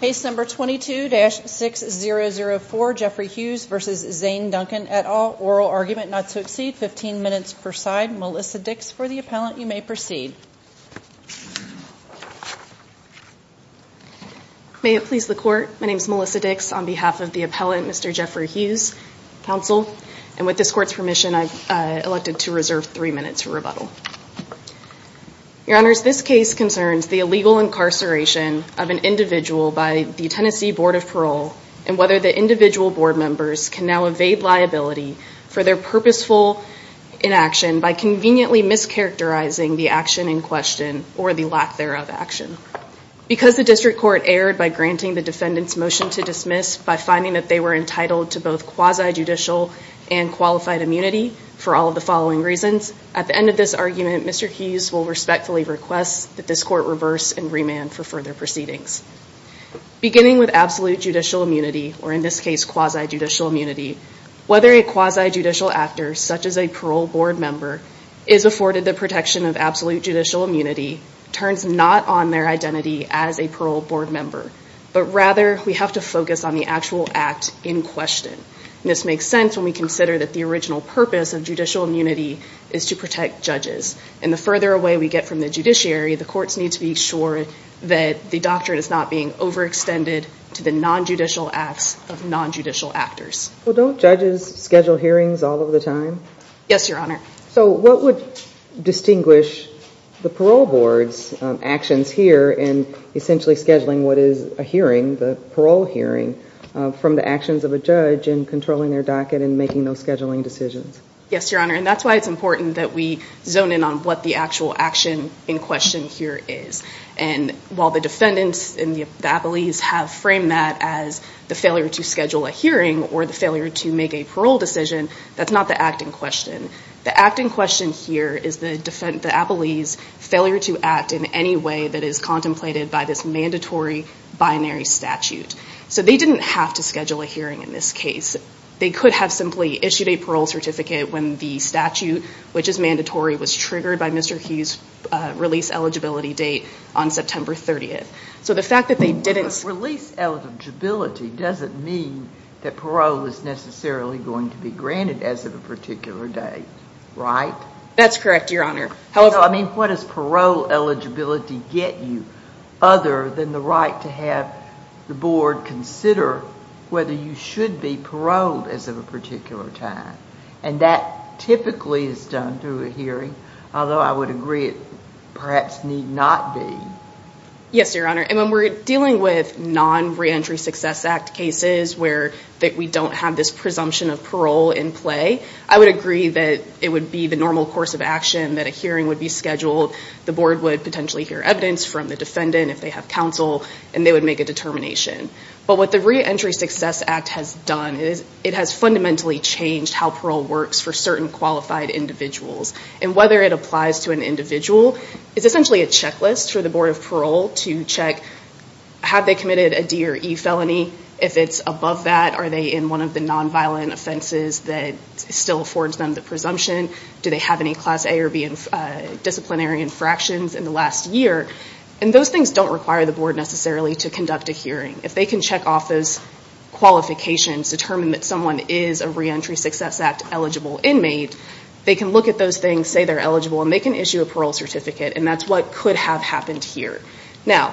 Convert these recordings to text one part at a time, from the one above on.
Case number 22-6004, Jeffrey Hughes v. Zane Duncan, et al., oral argument not to exceed 15 minutes per side, Melissa Dix for the appellant, you may proceed. May it please the court, my name is Melissa Dix on behalf of the appellant, Mr. Jeffrey Hughes, counsel, and with this court's permission I've elected to reserve three minutes for rebuttal. Your honors, this case concerns the illegal incarceration of an individual by the Tennessee Board of Parole and whether the individual board members can now evade liability for their purposeful inaction by conveniently mischaracterizing the action in question or the lack thereof action. Because the district court erred by granting the defendant's motion to dismiss by finding that they were entitled to both quasi-judicial and qualified immunity for all of the following reasons, at the end of this argument, Mr. Hughes will respectfully request that this court reverse and remand for further proceedings. Beginning with absolute judicial immunity, or in this case quasi-judicial immunity, whether a quasi-judicial actor, such as a parole board member, is afforded the protection of absolute judicial immunity turns not on their identity as a parole board member, but rather we have to focus on the actual act in question. And this makes sense when we consider that the original purpose of judicial immunity is to protect judges. And the further away we get from the judiciary, the courts need to be sure that the doctrine is not being overextended to the non-judicial acts of non-judicial actors. Well, don't judges schedule hearings all of the time? Yes, your honor. So what would distinguish the parole board's actions here in essentially scheduling what is a hearing, the parole hearing, from the actions of a judge in controlling their docket and making those scheduling decisions? Yes, your honor. And that's why it's important that we zone in on what the actual action in question here is. And while the defendants and the appellees have framed that as the failure to schedule a hearing or the failure to make a parole decision, that's not the act in question. The act in question here is the appellee's failure to act in any way that is contemplated by this mandatory binary statute. So they didn't have to schedule a hearing in this case. They could have simply issued a parole certificate when the statute, which is mandatory, was triggered by Mr. Hughes' release eligibility date on September 30th. Release eligibility doesn't mean that parole is necessarily going to be granted as of a particular date, right? That's correct, your honor. I mean, what does parole eligibility get you other than the right to have the board consider whether you should be paroled as of a particular time? And that typically is done through a hearing, although I would agree it perhaps need not be. Yes, your honor. And when we're dealing with non-Reentry Success Act cases where we don't have this presumption of parole in play, I would agree that it would be the normal course of action that a hearing would be scheduled, the board would potentially hear evidence from the defendant if they have counsel, and they would make a determination. But what the Reentry Success Act has done is it has fundamentally changed how parole works for certain qualified individuals. And whether it applies to an individual is essentially a checklist for the Board of Parole to check, have they committed a D or E felony? If it's above that, are they in one of the nonviolent offenses that still affords them the presumption? Do they have any Class A or B disciplinary infractions in the last year? And those things don't require the board necessarily to conduct a hearing. If they can check off those qualifications, determine that someone is a Reentry Success Act eligible inmate, they can look at those things, say they're eligible, and they can issue a parole certificate. And that's what could have happened here. Now,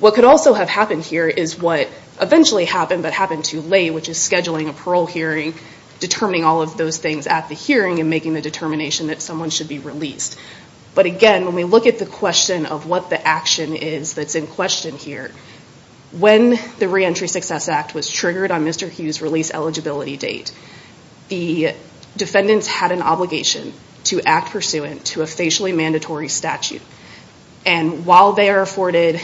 what could also have happened here is what eventually happened but happened too late, which is scheduling a parole hearing, determining all of those things at the hearing, and making the determination that someone should be released. But again, when we look at the question of what the action is that's in question here, when the Reentry Success Act was triggered on Mr. Hughes' release eligibility date, the defendants had an obligation to act pursuant to a facially mandatory statute. And while they are afforded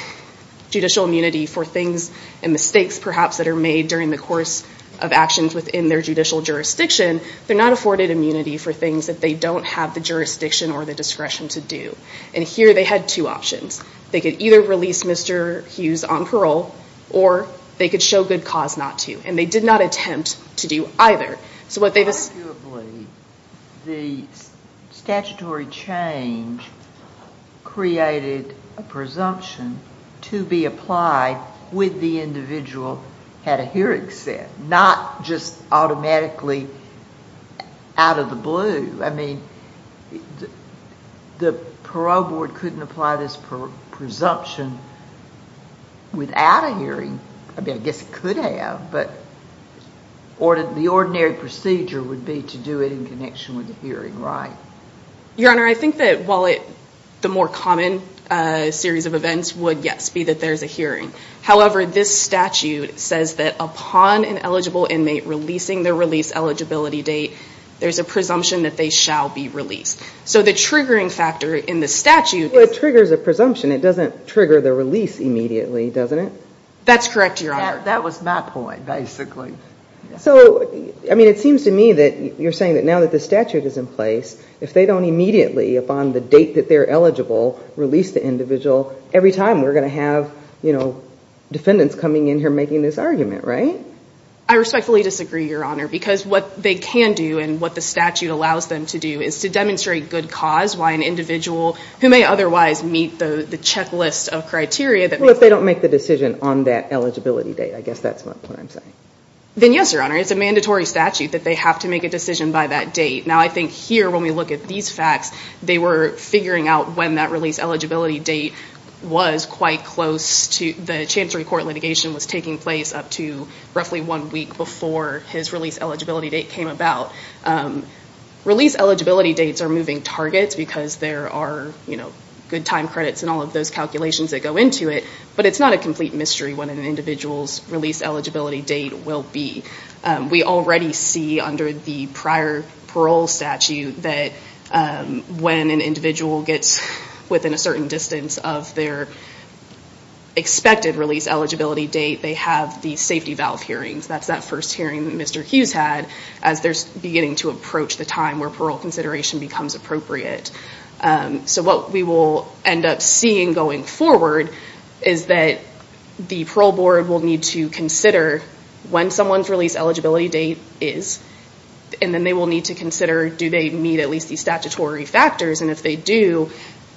judicial immunity for things and mistakes, perhaps, that are made during the course of actions within their judicial jurisdiction, they're not afforded immunity for things that they don't have the jurisdiction or the discretion to do. And here they had two options. They could either release Mr. Hughes on parole, or they could show good cause not to. And they did not attempt to do either. Arguably, the statutory change created a presumption to be applied with the individual had a hearing set, not just automatically out of the blue. I mean, the Parole Board couldn't apply this presumption without a hearing. I mean, I guess it could have, but the ordinary procedure would be to do it in connection with a hearing, right? Your Honor, I think that while the more common series of events would, yes, be that there's a hearing, however, this statute says that upon an eligible inmate releasing their release eligibility date, there's a presumption that they shall be released. So the triggering factor in the statute is... Well, it triggers a presumption. It doesn't trigger the release immediately, doesn't it? That's correct, Your Honor. That was my point, basically. So, I mean, it seems to me that you're saying that now that the statute is in place, if they don't immediately, upon the date that they're eligible, release the individual, every time we're going to have, you know, defendants coming in here making this argument, right? I respectfully disagree, Your Honor, because what they can do and what the statute allows them to do is to demonstrate good cause, why an individual who may otherwise meet the checklist of criteria... Well, if they don't make the decision on that eligibility date, I guess that's what I'm saying. Then, yes, Your Honor. It's a mandatory statute that they have to make a decision by that date. Now, I think here, when we look at these facts, they were figuring out when that release eligibility date was quite close to... The Chancery Court litigation was taking place up to roughly one week before his release eligibility date came about. Release eligibility dates are moving targets because there are, you know, good time credits and all of those calculations that go into it, but it's not a complete mystery what an individual's release eligibility date will be. We already see under the prior parole statute that when an individual gets within a certain distance of their expected release eligibility date, they have the safety valve hearings. That's that first hearing that Mr. Hughes had as they're beginning to approach the time where parole consideration becomes appropriate. So what we will end up seeing going forward is that the parole board will need to consider when someone's release eligibility date is, and then they will need to consider do they meet at least the statutory factors, and if they do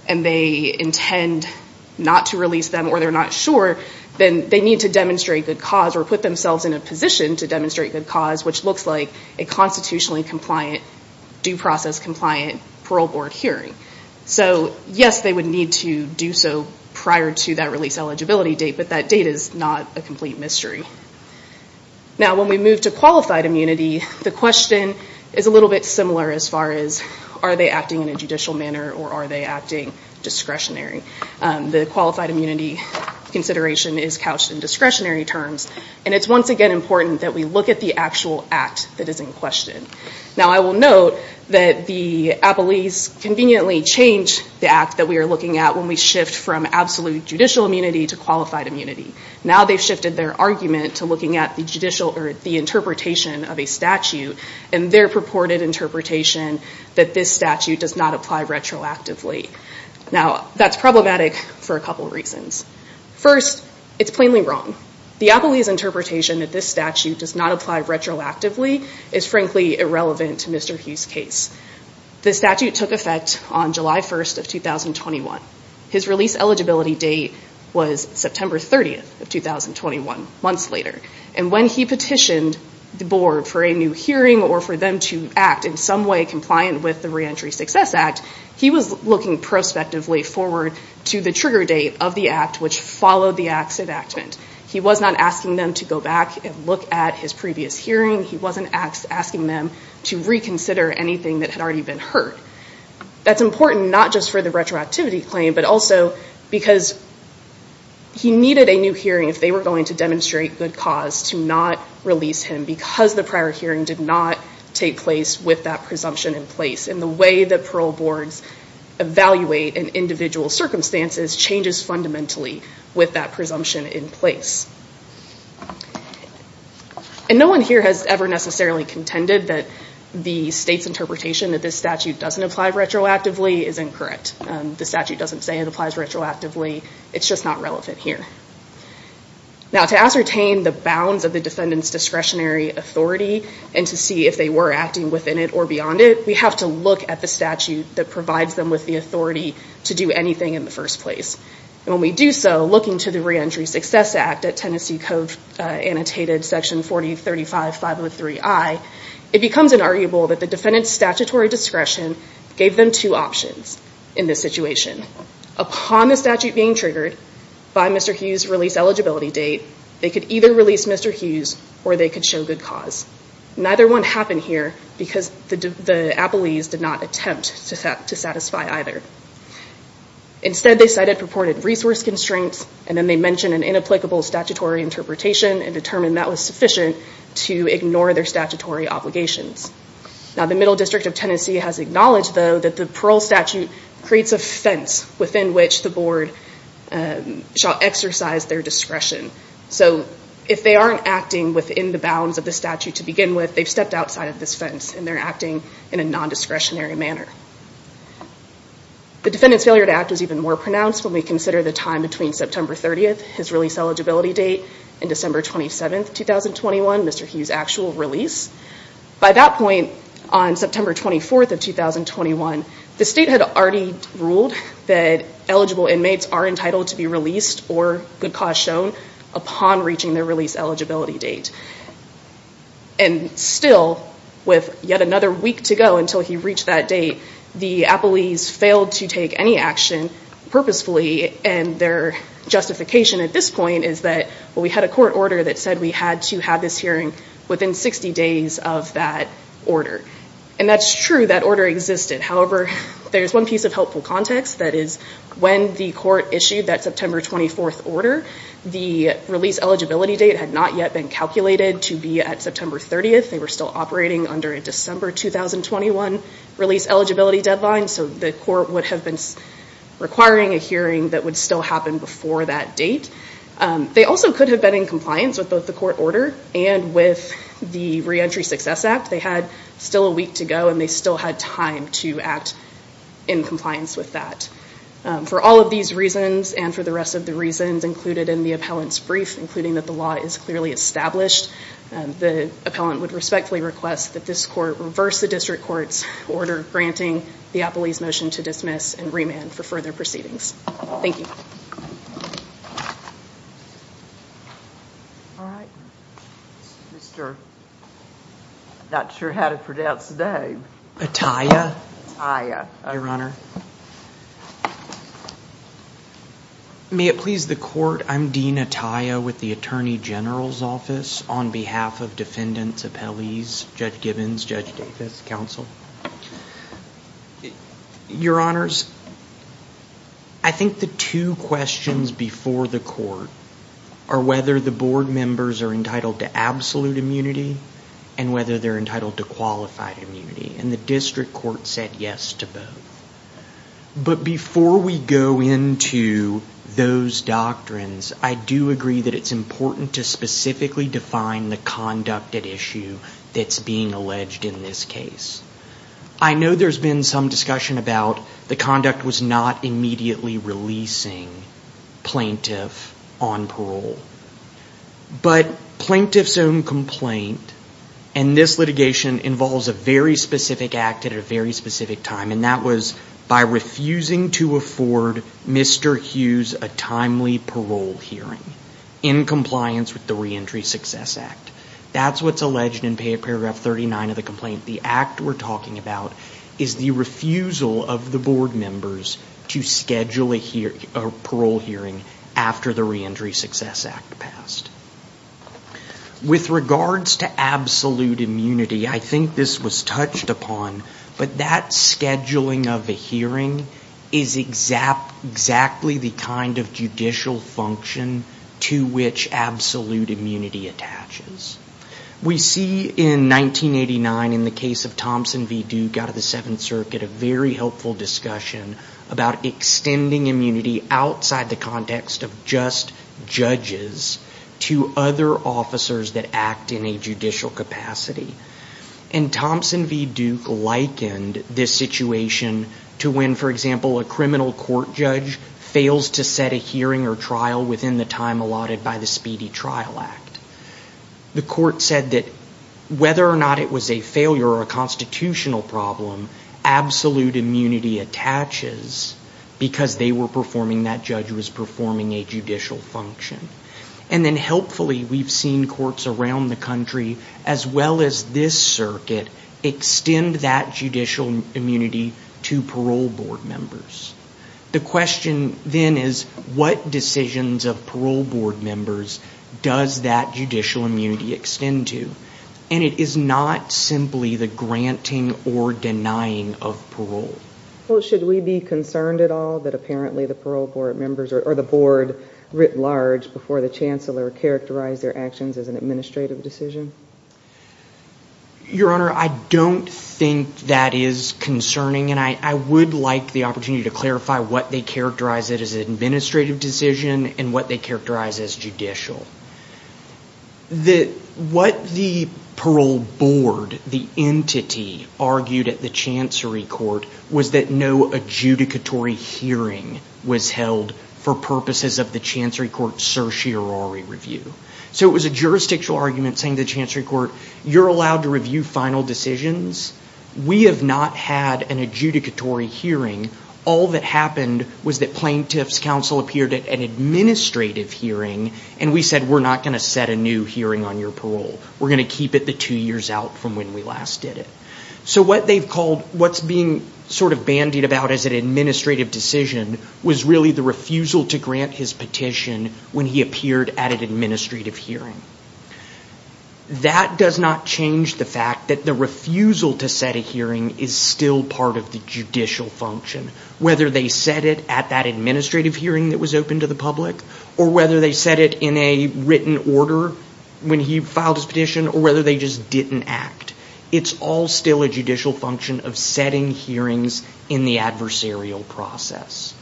and they intend not to release them or they're not sure, then they need to demonstrate good cause or put themselves in a position to demonstrate good cause, which looks like a constitutionally compliant, due process compliant parole board hearing. So yes, they would need to do so prior to that release eligibility date, but that date is not a complete mystery. Now when we move to qualified immunity, the question is a little bit similar as far as are they acting in a judicial manner or are they acting discretionary. The qualified immunity consideration is couched in discretionary terms, and it's once again important that we look at the actual act that is in question. Now I will note that the appellees conveniently change the act that we are looking at when we shift from absolute judicial immunity to qualified immunity. Now they've shifted their argument to looking at the interpretation of a statute and their purported interpretation that this statute does not apply retroactively. Now that's problematic for a couple reasons. First, it's plainly wrong. The appellee's interpretation that this statute does not apply retroactively is frankly irrelevant to Mr. Hughes' case. The statute took effect on July 1st of 2021. His release eligibility date was September 30th of 2021, months later, and when he petitioned the board for a new hearing or for them to act in some way compliant with the Reentry Success Act, he was looking prospectively forward to the trigger date of the act which followed the act's enactment. He was not asking them to go back and look at his previous hearing. He wasn't asking them to reconsider anything that had already been heard. That's important not just for the retroactivity claim, but also because he needed a new hearing if they were going to demonstrate good cause to not release him because the prior hearing did not take place with that presumption in place. The way that parole boards evaluate an individual's circumstances changes fundamentally with that presumption in place. No one here has ever necessarily contended that the state's interpretation that this statute doesn't apply retroactively is incorrect. The statute doesn't say it applies retroactively. It's just not relevant here. Now to ascertain the bounds of the defendant's discretionary authority and to see if they were acting within it or beyond it, we have to look at the statute that provides them with the authority to do anything in the first place. When we do so, looking to the Reentry Success Act at Tennessee Code Annotated Section 4035503I, it becomes inarguable that the defendant's statutory discretion gave them two options in this situation. Upon the statute being triggered by Mr. Hughes' release eligibility date, they could either release Mr. Hughes or they could show good cause. Neither one happened here because the appellees did not attempt to satisfy either. Instead, they cited purported resource constraints and then they mentioned an inapplicable statutory interpretation and determined that was sufficient to ignore their statutory obligations. Now the Middle District of Tennessee has acknowledged, though, that the parole statute creates a fence within which the board shall exercise their discretion. So if they aren't acting within the bounds of the statute to begin with, they've stepped outside of this fence and they're acting in a non-discretionary manner. The defendant's failure to act was even more pronounced when we consider the time between September 30th, his release eligibility date, and December 27th, 2021, Mr. Hughes' actual release. By that point, on September 24th of 2021, the state had already ruled that eligible inmates are entitled to be released or good cause shown upon reaching their release eligibility date. And still, with yet another week to go until he reached that date, the appellees failed to take any action purposefully and their justification at this point is that we had a court order that said we had to have this hearing within 60 days of that order. And that's true, that order existed. However, there's one piece of helpful context that is when the court issued that September 24th order, the release eligibility date had not yet been calculated to be at September 30th. They were still operating under a December 2021 release eligibility deadline so the court would have been requiring a hearing that would still happen before that date. They also could have been in compliance with both the court order and with the Reentry Success Act. They had still a week to go and they still had time to act in compliance with that. For all of these reasons, and for the rest of the reasons included in the appellant's brief, including that the law is clearly established, the appellant would respectfully request that this court reverse the district court's order granting the appellee's motion to dismiss and remand for further proceedings. Thank you. All right. Mr. Atiyah. May it please the court, I'm Dean Atiyah with the Attorney General's Office on behalf of defendants, appellees, Judge Gibbons, Judge Davis, counsel. Your honors, I think the two questions before the court are whether the board members are entitled to absolute immunity and whether they're entitled to qualified immunity. And the district court said yes to both. But before we go into those doctrines, I do agree that it's important to specifically define the conduct at issue that's being alleged in this case. I know there's been some discussion about the conduct was not immediately releasing plaintiff on parole. But plaintiff's own complaint in this litigation involves a very specific act at a very specific time, and that was by refusing to afford Mr. Hughes a timely parole hearing in compliance with the Reentry Success Act. That's what's alleged in paragraph 39 of the complaint. The act we're talking about is the refusal of the board members to schedule a parole hearing after the Reentry Success Act passed. With regards to absolute immunity, I think this was touched upon, but that scheduling of a hearing is exactly the kind of judicial function to which absolute immunity attaches. We see in 1989 in the case of Thompson v. Duke out of the Seventh Circuit a very helpful discussion about extending immunity outside the context of just judges to other officers that act in a judicial capacity. And Thompson v. Duke likened this situation to when, for example, a criminal court judge fails to set a hearing or trial within the time allotted by the Speedy Trial Act. The court said that whether or not it was a failure or a constitutional problem, absolute immunity attaches because that judge was performing a judicial function. And then, helpfully, we've seen courts around the country, as well as this circuit, extend that judicial immunity to parole board members. The question then is, what decisions of parole board members does that judicial immunity extend to? And it is not simply the granting or denying of parole. Your Honor, I don't think that is concerning. And I would like the opportunity to clarify what they characterize as an administrative decision and what they characterize as judicial. What the parole board, the entity, argued at the Chancery Court was that no adjudicatory hearing was held for purposes of the Chancery Court's certiorari review. So it was a jurisdictional argument saying to the Chancery Court, you're allowed to review final decisions. We have not had an adjudicatory hearing. All that happened was that plaintiff's counsel appeared at an administrative hearing and we said we're not going to set a new hearing on your parole. We're going to keep it the two years out from when we last did it. So what they've called, what's being sort of bandied about as an administrative decision was really the refusal to grant his petition when he appeared at an administrative hearing. That does not change the fact that the refusal to set a hearing is still part of the judicial function. Whether they set it at that administrative hearing that was open to the public or whether they set it in a written order when he filed his petition or whether they just didn't act. It's all still a judicial function of setting hearings in the adversarial process.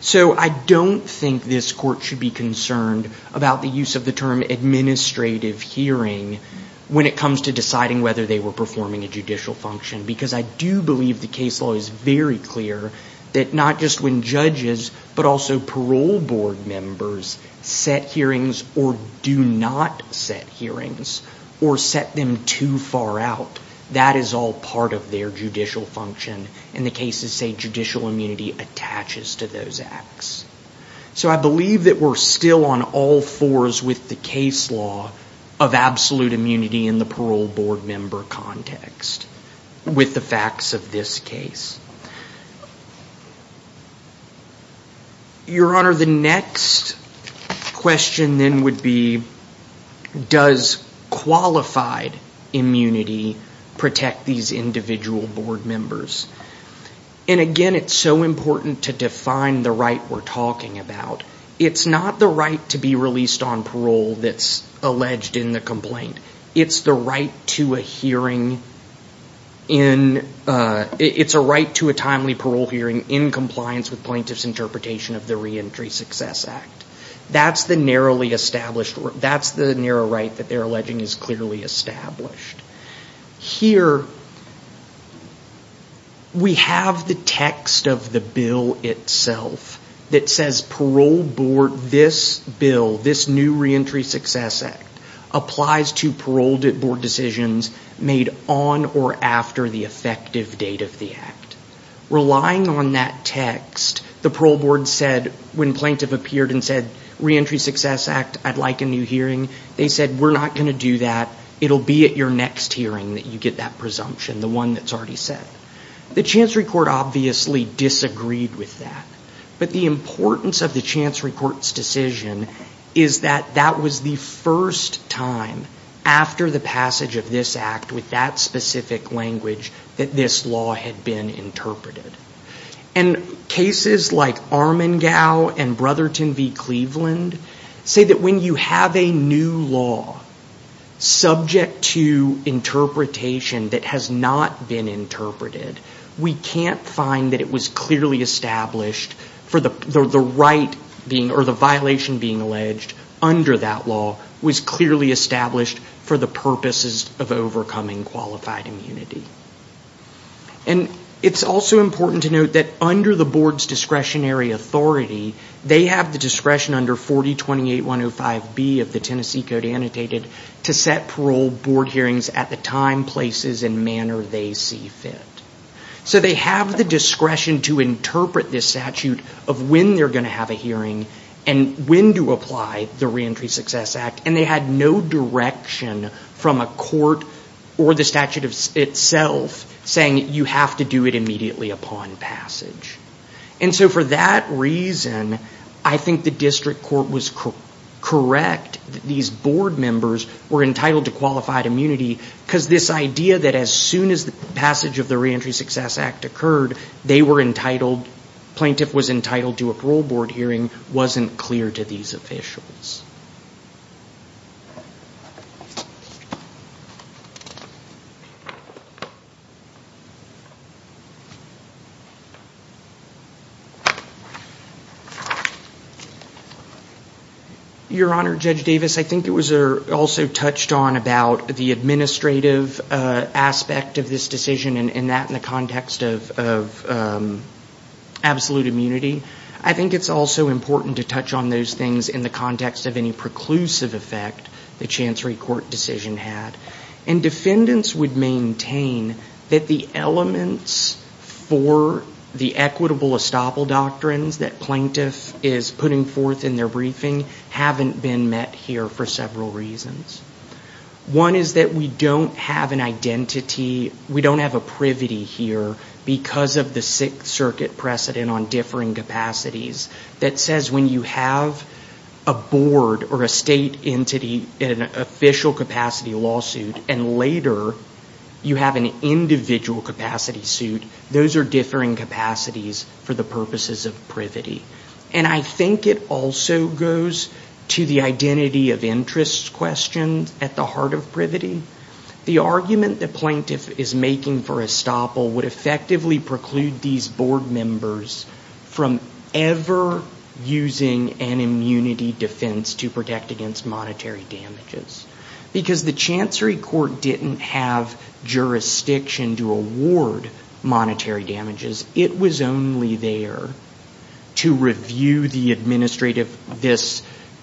So I don't think this court should be concerned about the use of the term administrative hearing when it comes to deciding whether they were performing a judicial function because I do believe the case law is very clear that not just when judges but also parole board members set hearings or do not set hearings or set them too far out, that is all part of their judicial function and the cases say judicial immunity attaches to those acts. So I believe that we're still on all fours with the case law of absolute immunity in the parole board member context. With the facts of this case. Your Honor, the next question then would be does qualified immunity protect these individual board members? And again it's so important to define the right we're talking about. It's not the right to be released on parole that's alleged in the complaint. It's the right to a hearing in it's a right to a timely parole hearing in compliance with plaintiff's interpretation of the Reentry Success Act. That's the narrow right that they're alleging is clearly established. Here we have the text of the bill itself that says parole board this bill, this new Reentry Success Act applies to parole board decisions made on or after the effective date of the act. Relying on that text, the parole board said when plaintiff appeared and said Reentry Success Act I'd like a new hearing, they said we're not going to do that it'll be at your next hearing that you get that presumption the one that's already set. The Chancery Court obviously disagreed with that but the importance of the Chancery Court's decision is that that was the first time after the passage of this act with that specific language that this law had been interpreted. Cases like Armengau and Brotherton v. Cleveland say that when you have a new law subject to interpretation that has not been interpreted we can't find that it was clearly established for the violation being alleged under that law was clearly established for the purposes of overcoming qualified immunity. And it's also important to note that under the board's discretionary authority they have the discretion under 4028105B of the Tennessee Code annotated to set parole board hearings at the time, places, and manner they see fit. So they have the discretion to interpret this statute of when they're going to have a hearing and when to apply the Reentry Success Act and they had no direction from a court or the statute itself saying you have to do it immediately upon passage. And so for that reason I think the district court was correct that these board members were entitled to qualified immunity because this idea that as soon as the passage of the Reentry Success Act occurred they were entitled, the plaintiff was entitled to a parole board hearing wasn't clear to these officials. Your Honor, Judge Davis, I think it was also touched on about the administrative aspect of this decision and that in the context of absolute immunity. I think it's also important to touch on those things in the context of any preclusive effect the Chancery Court decision had. And defendants would maintain that the elements for the equitable estoppel doctrines that plaintiff is putting forth in their briefing haven't been met here for several reasons. One is that we don't have an identity, we don't have a privity here because of the Sixth Circuit precedent on differing capacities that says when you have a board or a state entity in an official capacity lawsuit and later you have an individual capacity suit those are differing capacities for the purposes of privity. And I think it also goes to the identity of interest question at the heart of privity. The argument that plaintiff is making for estoppel would effectively preclude these board members from ever using an immunity defense to protect against monetary damages. Because the Chancery Court didn't have jurisdiction to award monetary damages. It was only there to review the administrative,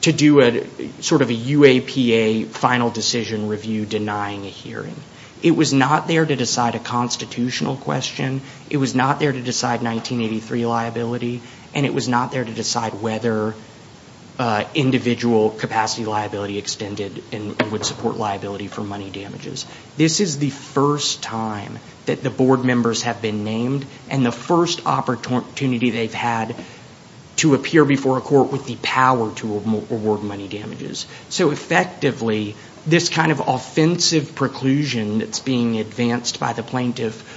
to do a sort of a UAPA final decision review before denying a hearing. It was not there to decide a constitutional question, it was not there to decide 1983 liability and it was not there to decide whether individual capacity liability extended and would support liability for money damages. This is the first time that the board members have been named and the first opportunity they've had to appear before a court with the power to award money damages. So effectively, this kind of offensive preclusion that's being advanced by the plaintiff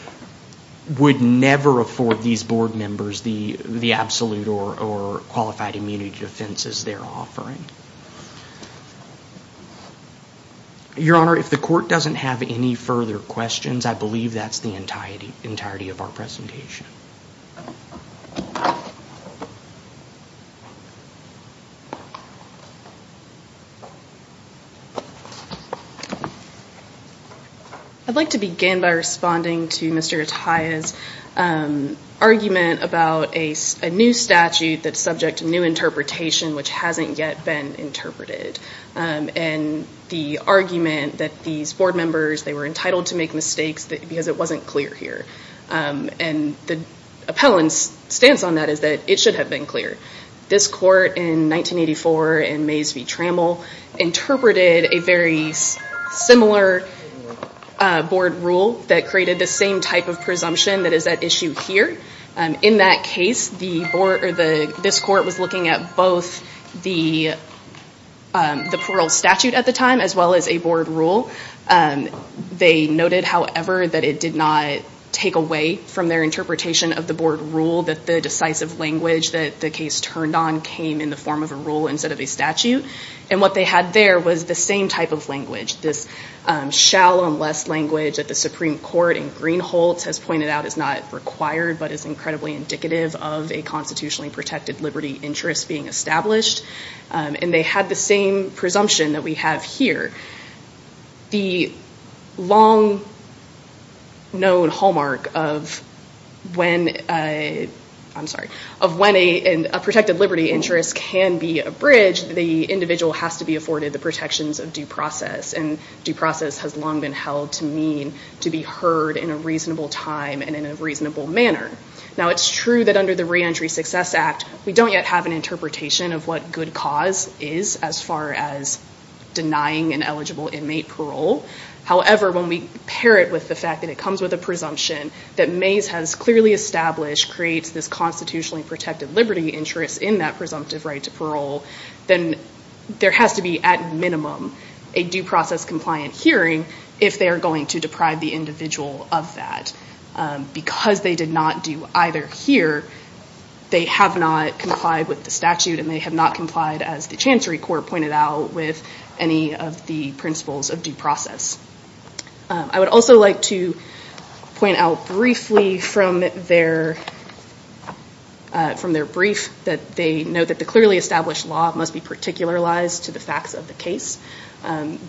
would never afford these board members the absolute or qualified immunity defenses they're offering. Your Honor, if the court doesn't have any further questions I believe that's the entirety of our presentation. I'd like to begin by responding to Mr. Atiyah's argument about a new statute that's subject to new interpretation which hasn't yet been interpreted. And the argument that these board members, they were entitled to make mistakes because it wasn't clear here. And the appellant's stance on that is that it should have been clear. This court in 1984 in Mays v. Trammell interpreted a very similar board rule that created the same type of presumption that is at issue here. In that case, this court was looking at both the parole statute at the time as well as a board rule. They noted, however, that it did not take away from their interpretation of the board rule that the decisive language that the case turned on came in the form of a rule instead of a statute. And what they had there was the same type of language. This shall unless language that the Supreme Court in Greenholz has pointed out is not required but is incredibly indicative of a constitutionally protected liberty interest being established. And they had the same presumption that we have here. The long known hallmark of when a protected liberty interest can be abridged, the individual has to be afforded the protections of due process. And due process has long been held to mean to be heard in a reasonable time and in a reasonable manner. Now it's true that under the Reentry Success Act we don't yet have an interpretation of what good cause is as far as denying an eligible inmate parole. However, when we pair it with the fact that it comes with a presumption that Mays has clearly established creates this constitutionally protected liberty interest in that presumptive right to parole then there has to be at minimum a due process compliant hearing if they are going to deprive the individual of that. Because they did not do either here they have not complied with the statute and they have not complied as the Chancery Court pointed out with any of the principles of due process. I would also like to point out briefly from their brief that they note that the clearly established law must be particularized to the facts of the case.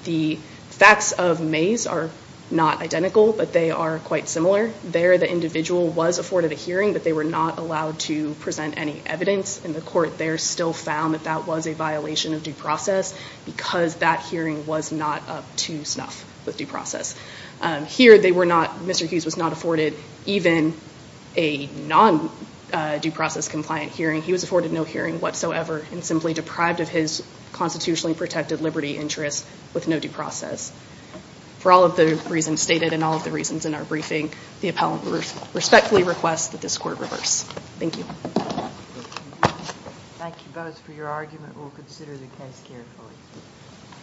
The facts of Mays are not identical but they are quite similar. There the individual was afforded a hearing but they were not allowed to present any evidence and the court there still found that that was a violation of due process because that hearing was not up to snuff with due process. Mr. Hughes was not afforded even a non- due process compliant hearing. He was afforded no hearing whatsoever and simply deprived of his constitutionally protected liberty interest with no due process. For all of the reasons stated and all of the reasons in our briefing the appellant respectfully requests that this court reverse. Thank you. Thank you both for your argument. We will consider the case carefully.